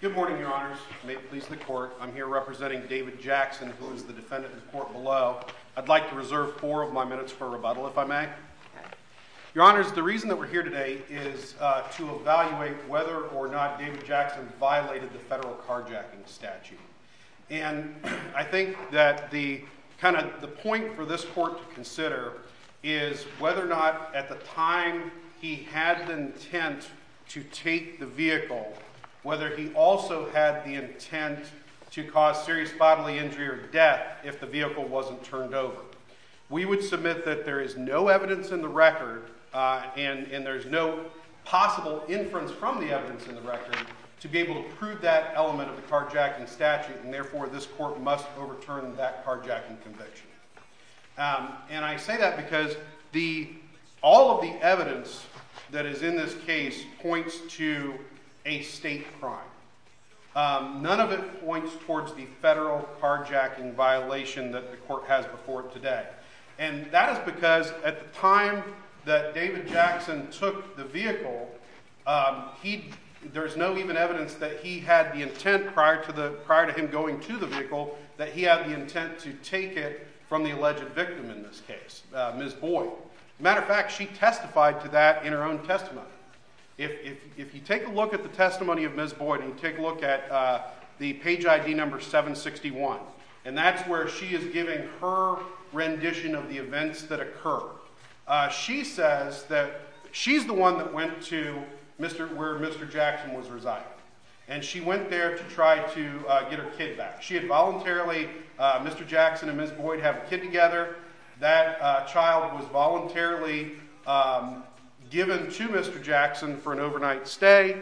Good morning, your honors, may it please the court, I'm here representing David Jackson, who is the defendant in court below. I'd like to reserve four of my minutes for rebuttal if I may. Your honors, the reason that we're here today is to evaluate whether or not David Jackson violated the federal carjacking statute. And I think that the kind of the point for this court to consider is whether or not at the time he had the intent to take the vehicle, whether he also had the intent to cause serious bodily injury or death if the vehicle wasn't turned over. We would submit that there is no evidence in the record and there's no possible inference from the evidence in the record to be able to prove that element of the carjacking statute, and therefore this court must overturn that carjacking conviction. And I say that because all of the evidence that is in this case points to a state crime. None of it points towards the state. And that is because at the time that David Jackson took the vehicle, there's no even evidence that he had the intent prior to him going to the vehicle that he had the intent to take it from the alleged victim in this case, Ms. Boyd. Matter of fact, she testified to that in her own testimony. If you take a look at the testimony of Ms. Boyd and take a look at the page ID number 761, and that's where she is giving her rendition of the events that occurred. She says that she's the one that went to where Mr. Jackson was residing. And she went there to try to get her kid back. She had voluntarily, Mr. Jackson and Ms. Boyd have a kid together. That child was voluntarily given to Mr. Jackson for an overnight stay.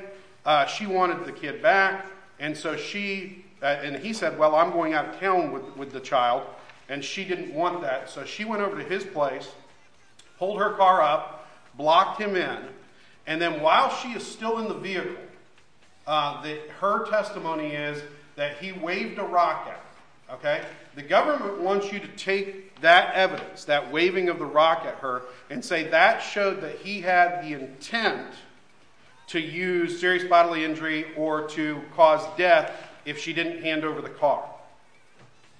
She wanted the kid back. And so she, and he said, I'm going out of town with the child. And she didn't want that. So she went over to his place, pulled her car up, blocked him in. And then while she is still in the vehicle, her testimony is that he waved a rocket. The government wants you to take that evidence, that waving of the rock at her and say that showed that he had the intent to use serious over the car.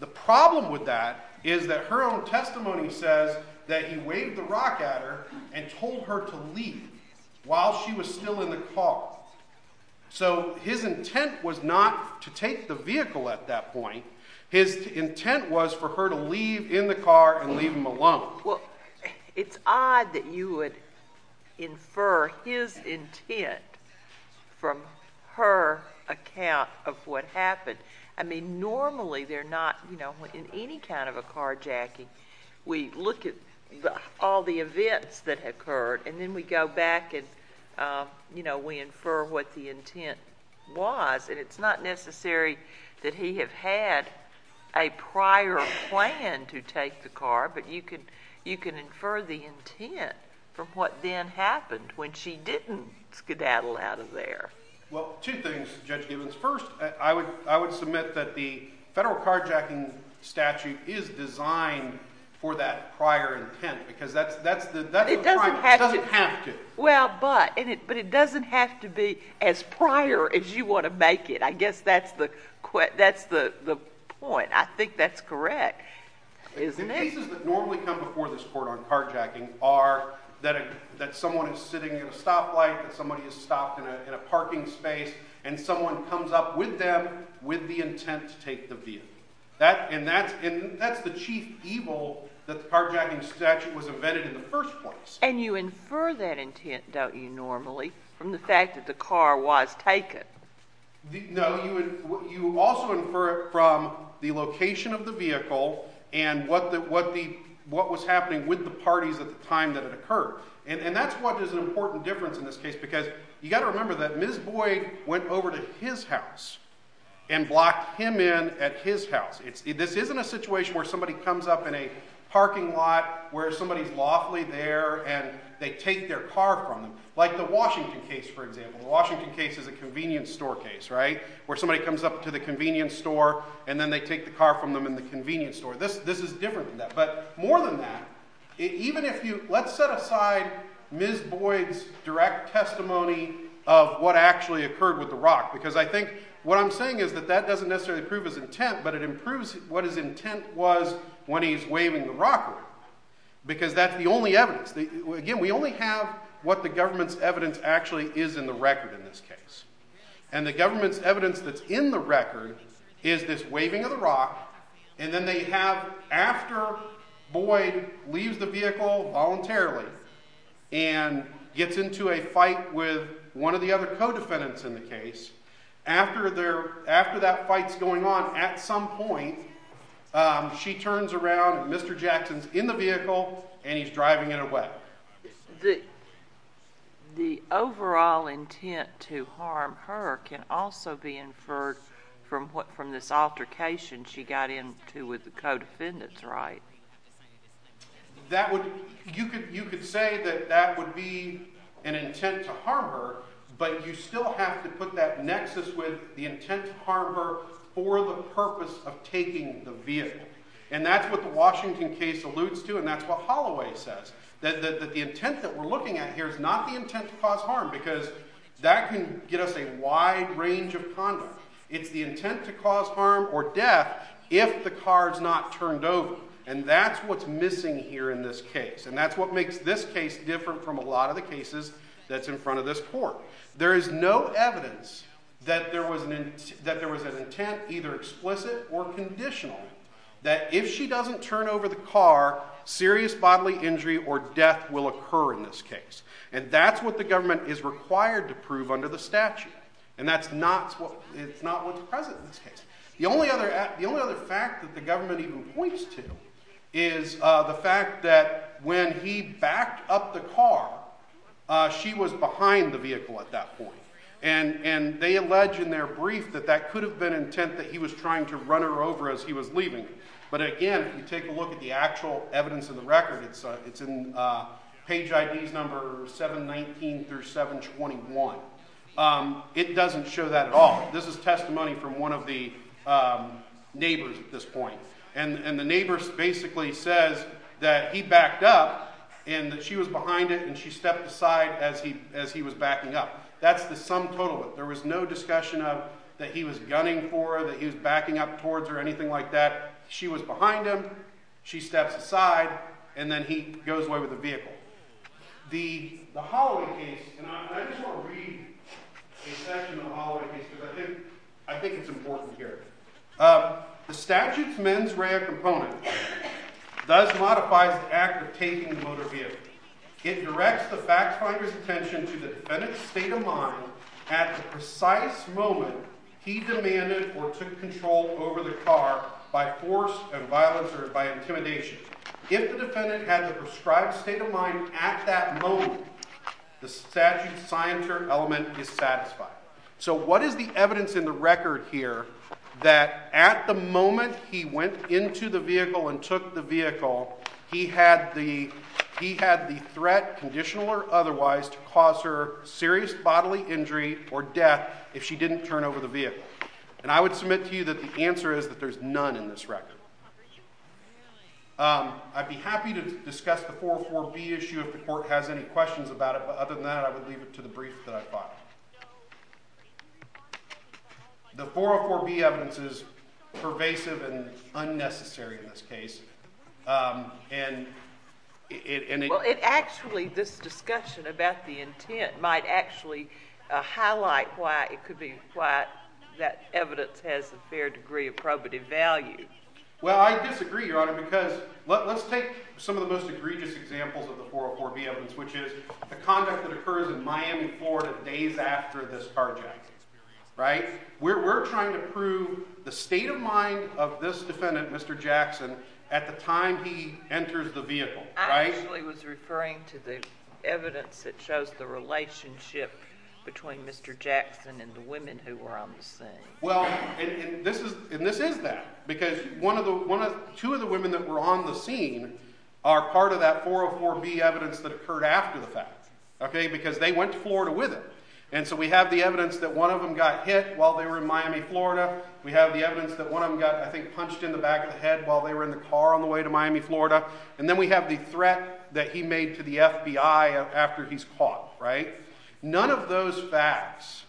The problem with that is that her own testimony says that he waved the rock at her and told her to leave while she was still in the car. So his intent was not to take the vehicle at that point. His intent was for her to leave in the car and leave him alone. Well, it's odd that you would infer his intent from her account of what happened. I mean, normally they're not, you know, in any kind of a carjacking, we look at all the events that occurred and then we go back and, you know, we infer what the intent was. And it's not necessary that he have had a prior plan to take the car, but you can infer the intent from what then happened when she didn't skedaddle out of there. Well, two things, Judge Givens. First, I would submit that the federal carjacking statute is designed for that prior intent because that's the primary. It doesn't have to. Well, but it doesn't have to be as prior as you want to make it. I guess that's the point. I think that's correct, isn't it? The cases that normally come before this court on carjacking are that someone is sitting at a stoplight, that somebody is stopped in a parking space, and someone comes up with them with the intent to take the vehicle. And that's the chief evil that the carjacking statute was invented in the first place. And you infer that intent, don't you, normally from the fact that the car was taken. No, you also infer it from the location of the vehicle and what was happening with the parties at the time that it occurred. And that's what is an important difference in this case because you got to remember that Ms. Boyd went over to his house and blocked him in at his house. This isn't a situation where somebody comes up in a parking lot where somebody's lawfully there and they take their car from them. Like the Washington case, for example. The Washington case is a convenience store case, right, where somebody comes up to the convenience store and then they take the car from them in the convenience store. This is different than that. But more than that, even if you let's set aside Ms. Boyd's direct testimony of what actually occurred with the rock because I think what I'm saying is that doesn't necessarily prove his intent but it improves what his intent was when he's waving the rock away because that's the only evidence. Again, we only have what the government's evidence actually is in the record in this case. And the government's evidence that's in the record is this waving of the rock and then they have after Boyd leaves the vehicle voluntarily and gets into a fight with one of the other co-defendants in the case. After that fight's going on, at some point she turns around and Mr. Jackson's in the vehicle and he's driving it away. The overall intent to harm her can also be inferred from this altercation she got into with the co-defendants, right? You could say that that would be an intent to harm her but you still have to put that nexus with the intent to harm her for the purpose of taking the vehicle. And that's what the Washington case alludes to and that's what Holloway says. That the intent that we're looking at here is not the intent to cause harm because that can get us a wide range of conduct. It's the intent to harm. And that's what's missing here in this case and that's what makes this case different from a lot of the cases that's in front of this court. There is no evidence that there was an intent either explicit or conditional that if she doesn't turn over the car, serious bodily injury or death will occur in this case. And that's what the government is required to prove under the statute and that's not what's present in this case. The only other fact that the government even points to is the fact that when he backed up the car, she was behind the vehicle at that point. And they allege in their brief that that could have been intent that he was trying to run her over as he was leaving. But again, if you take a look at the actual evidence in the record, it's in page IDs number 719 through 721. It doesn't show that at all. This is testimony from one of the and the neighbors basically says that he backed up and that she was behind it and she stepped aside as he was backing up. That's the sum total. There was no discussion of that he was gunning for, that he was backing up towards her, anything like that. She was behind him, she steps aside, and then he goes away with the vehicle. The Holloway case, and I just want to read a section of the Holloway case because I think it's important here. The statute's mens rea component does modifies the act of taking the motor vehicle. It directs the fact finder's attention to the defendant's state of mind at the precise moment he demanded or took control over the car by force and violence or by intimidation. If the defendant had the prescribed state of mind at that moment, the statute's signature element is satisfied. So what is the evidence in the record here that at the moment he went into the vehicle and took the vehicle, he had the threat, conditional or otherwise, to cause her serious bodily injury or death if she didn't turn over the vehicle? And I would submit to you that the answer is that there's none in this record. I'd be happy to discuss the 404B issue if the court has any questions about it, but other than that, I would leave it to the brief that I've got. The 404B evidence is pervasive and unnecessary in this case. Well, it actually, this discussion about the intent might actually highlight why it could be that evidence has a fair degree of probative value. Well, I disagree, Your Honor, because let's take some of the most egregious examples of the 404B evidence, which is the conduct that occurs in Miami, Florida days after this carjacking experience, right? We're trying to prove the state of mind of this defendant, Mr. Jackson, at the time he enters the vehicle, right? I actually was referring to the evidence that shows the relationship between Mr. Jackson and the women who were on the scene. Well, and this is that, because two of the women that were on the scene are part of that 404B evidence that occurred after the fact, okay? Because they went to Florida with him. And so we have the evidence that one of them got hit while they were in Miami, Florida. We have the evidence that one of them got, I think, punched in the back of the head while they were in the car on the way to Miami, Florida. And then we have the threat that he made to the FBI after he's caught, right? None of those facts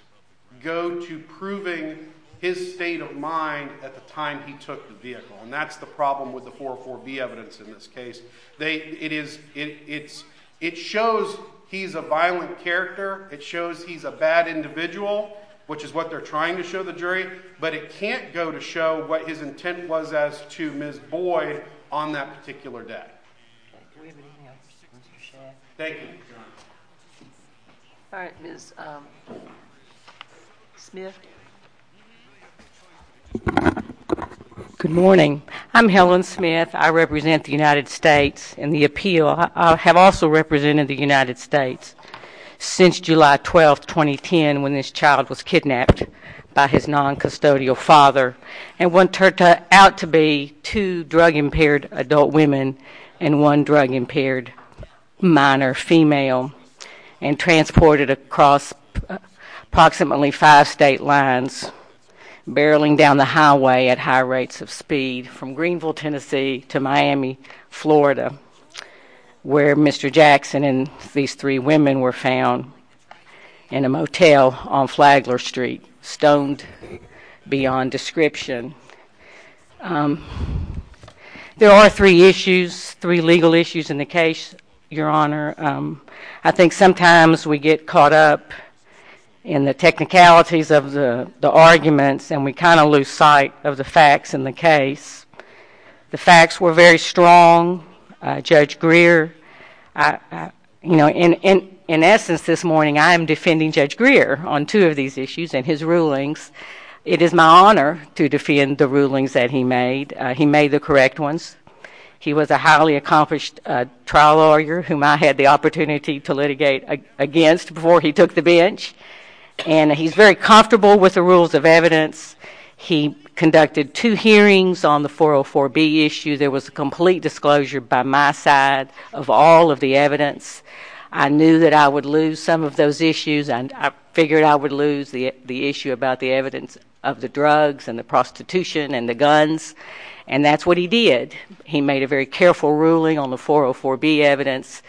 go to proving his state of mind at the time he took the vehicle. And that's the problem with the 404B evidence in this case. It shows he's a violent character. It shows he's a bad individual, which is what they're trying to show the jury. But it on that particular day. Thank you, Your Honor. All right, Ms. Smith. Good morning. I'm Helen Smith. I represent the United States in the appeal. I have also represented the United States since July 12, 2010, when this child was kidnapped by his drug-impaired adult women and one drug-impaired minor female and transported across approximately five state lines, barreling down the highway at high rates of speed from Greenville, Tennessee to Miami, Florida, where Mr. Jackson and these three women were found in a motel on Flagler Street, stoned beyond description. There are three issues, three legal issues in the case, Your Honor. I think sometimes we get caught up in the technicalities of the arguments, and we kind of lose sight of the facts in the defending Judge Greer on two of these issues and his rulings. It is my honor to defend the rulings that he made. He made the correct ones. He was a highly accomplished trial lawyer, whom I had the opportunity to litigate against before he took the bench. And he's very comfortable with the rules of evidence. He conducted two hearings on the 404B issue. There was a complete disclosure by my side of all of the evidence. I knew that I would lose some of those issues, and I figured I would lose the issue about the evidence of the drugs and the prostitution and the guns. And that's what he did. He made a very careful ruling on the 404B evidence.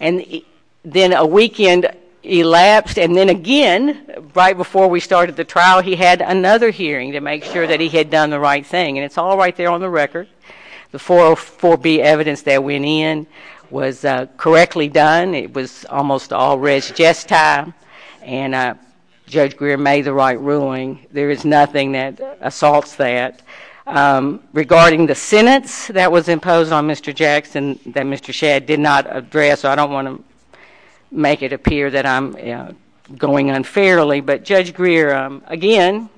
And then a weekend elapsed, and then again, right before we started the trial, he had another hearing to make sure that he had done the right thing. And it's all right there on the record. The 404B evidence that went in was correctly done. It was almost all res gestae. And Judge Greer made the right ruling. There is nothing that assaults that. Regarding the sentence that was imposed on Mr. Jackson that Mr. Shadd did not address, I don't want to make it appear that I'm going unfairly. But Judge Greer, again,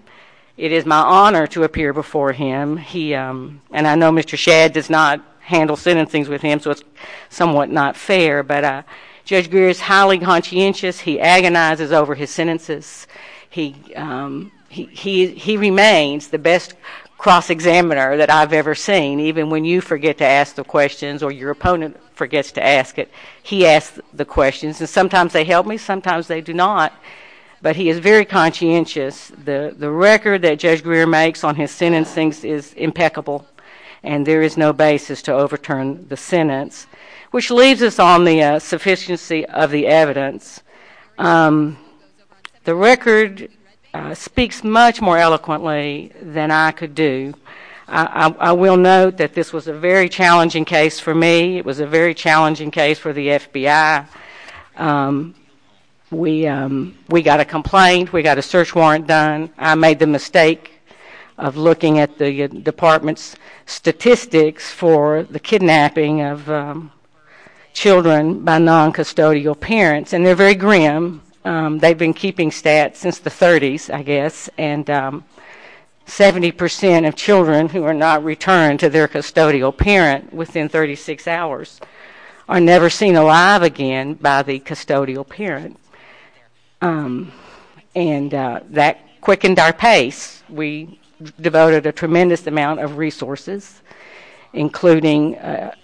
it is my honor to appear before him. And I know Mr. Shadd does not handle sentencing with him, so it's somewhat not fair. But Judge Greer is highly conscientious. He agonizes over his sentences. He remains the best cross-examiner that I've ever seen. Even when you forget to ask the questions or your opponent forgets to ask it, he asks the questions. And sometimes they help me, sometimes they do not. But he is very conscientious. The record that Judge Greer makes on his sentencing is impeccable. And there is no basis to overturn the sentence. Which leaves us on the sufficiency of the evidence. The record speaks much more eloquently than I could do. I will note that this was a very challenging case for me. It was a very challenging case. We got a complaint. We got a search warrant done. I made the mistake of looking at the department's statistics for the kidnapping of children by non-custodial parents. And they're very grim. They've been keeping stats since the 30s, I guess. And 70% of children who are not returned to their custodial parent within 36 hours are never seen alive again by the custodial parent. And that quickened our pace. We devoted a tremendous amount of resources, including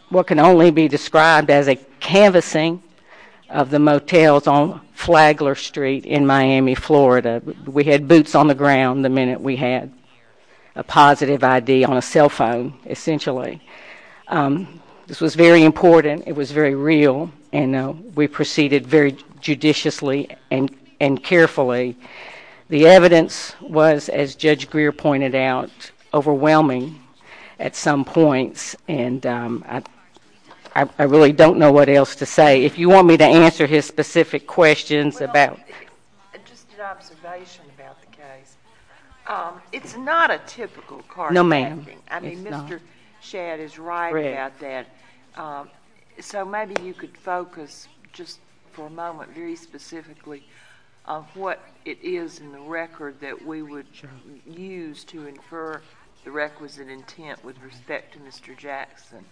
what can only be described as a canvassing of the motels on Flagler Street in Miami, Florida. We had boots on the ground the minute we had a positive ID on a cell phone, essentially. This was very important. It was very real. And we proceeded very judiciously and carefully. The evidence was, as Judge Greer pointed out, overwhelming at some points. And I really don't know what else to say. If you want me to answer his specific questions about just an observation about the case, it's not a typical car. No, ma'am. I mean, Mr. Shad is right about that. So maybe you could focus just for a moment very specifically on what it is in the record that we would use to infer the requisite intent with respect to Mr. Jackson.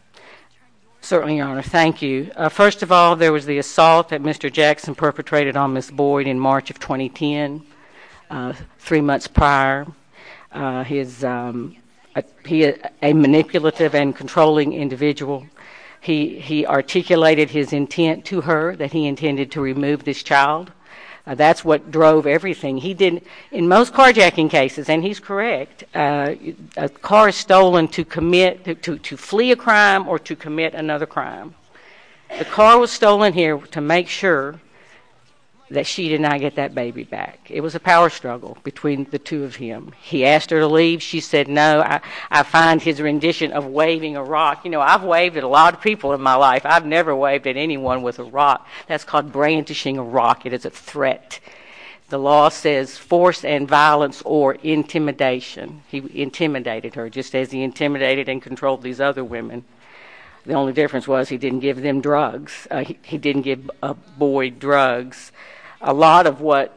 Certainly, Your Honor. Thank you. First of all, there was the assault that Mr. Jackson perpetrated on Ms. Boyd in March of 2010, three months prior. He is a manipulative and controlling individual. He articulated his intent to her that he intended to remove this child. That's what drove everything. In most carjacking cases, and he's correct, a car is stolen to flee a crime or to commit another crime. The car was stolen here to make sure that she did not get that baby back. It was a power struggle between the two of him. He asked her to leave. She said, no, I find his rendition of waving a rock. You know, I've waved at a lot of people in my life. I've never waved at anyone with a rock. That's called brandishing a rock. It is a threat. The law says force and violence or intimidation. He intimidated her just as he intimidated and controlled these other women. The only difference was he didn't give them drugs. He didn't give Boyd drugs. A lot of what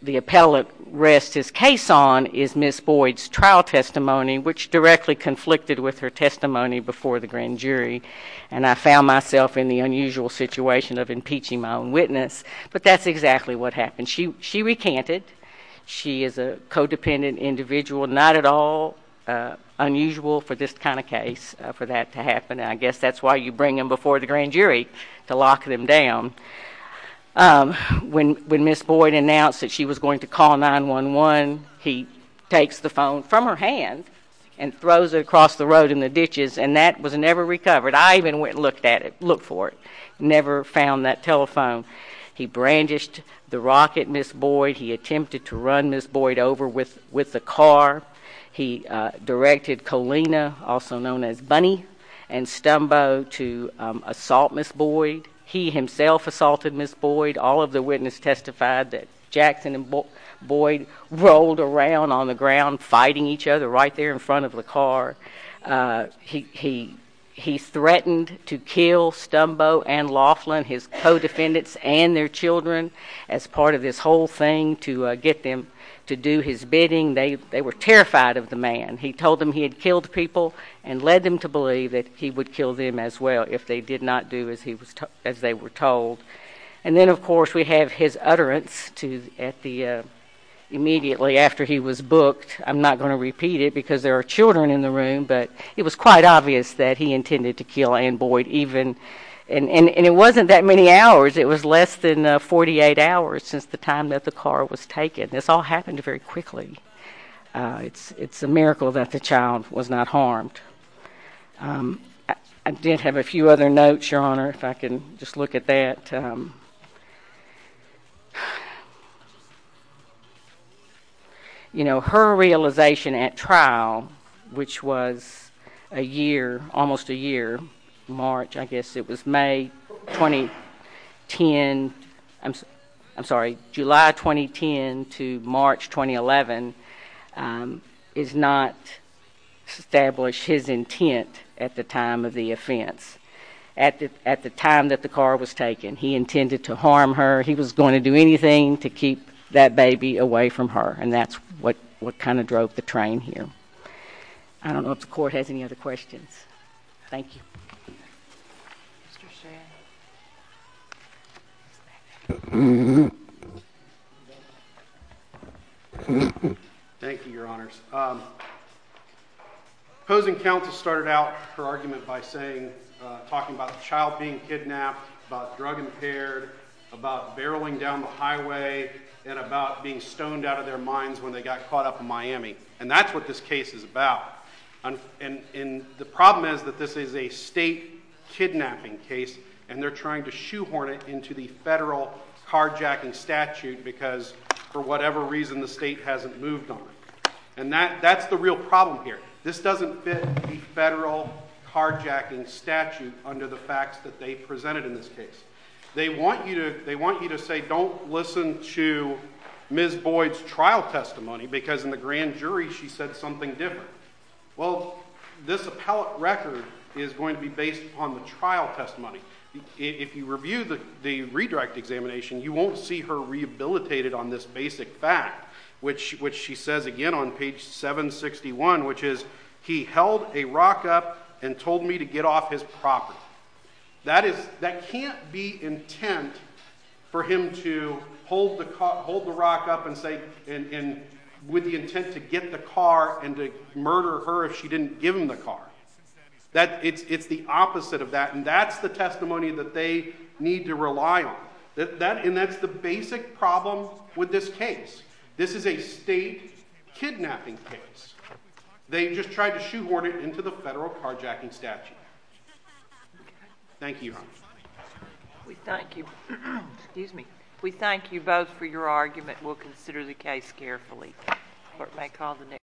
the appellate rests his case on is Ms. Boyd's trial testimony, which directly conflicted with her testimony before the grand jury. And I found myself in the unusual situation of impeaching my own witness. But that's exactly what happened. She recanted. She is a codependent individual. Not at all unusual for this kind of to lock them down. When when Ms. Boyd announced that she was going to call 9-1-1, he takes the phone from her hand and throws it across the road in the ditches. And that was never recovered. I even went and looked at it, look for it. Never found that telephone. He brandished the rock at Ms. Boyd. He attempted to run Ms. Boyd over with with the car. He directed Colina, also known as he himself assaulted Ms. Boyd. All of the witness testified that Jackson and Boyd rolled around on the ground fighting each other right there in front of the car. He threatened to kill Stumbo and Laughlin, his co-defendants and their children, as part of this whole thing to get them to do his bidding. They were terrified of the man. He told them he had killed people and led them to believe that he would kill them as well if they did not do as he was as they were told. And then, of course, we have his utterance to at the immediately after he was booked. I'm not going to repeat it because there are children in the room, but it was quite obvious that he intended to kill Ann Boyd even. And it wasn't that many hours. It was less than 48 hours since the time that the car was taken. This all happened very quickly. It's a miracle that the child was not harmed. I did have a few other notes, Your Honor, if I can just look at that. You know, her realization at trial, which was a year, almost a year, March, I guess it was May 2010. I'm sorry, July 2010 to March 2011 is not established his intent at the time of the offense. At the time that the car was taken, he intended to harm her. He was going to do anything to keep that baby away from her. And that's what kind of drove the train here. I don't know if the court has any other questions. Thank you. Thank you, Your Honors. Posing counts started out her argument by saying, talking about child being kidnapped, about drug impaired, about barreling down the highway and about being stoned out of their minds when they got caught up in Miami. And that's what this case is about. And the problem is that this is a state kidnapping case, and they're trying to shoehorn it into the federal carjacking statute because for whatever reason, the state hasn't moved on it. And that's the real problem here. This doesn't fit the federal carjacking statute under the facts that they presented in this case. They want you to say, don't listen to Ms. Boyd's trial testimony, because in the grand jury, she said something different. Well, this appellate record is going to be based on the trial testimony. If you review the redirect examination, you won't see her rehabilitated on this basic fact, which she says again on page 761, which is he held a rock up and told me to get off his property. That can't be intent for him to hold the rock up and say, with the intent to get the car and to murder her if she didn't give him the car. It's the opposite of that, and that's the testimony that they need to rely on. And that's the basic problem with this case. This is a state kidnapping case. They just tried to shoehorn it into the federal carjacking statute. Thank you. We thank you both for your argument. We'll consider the case carefully.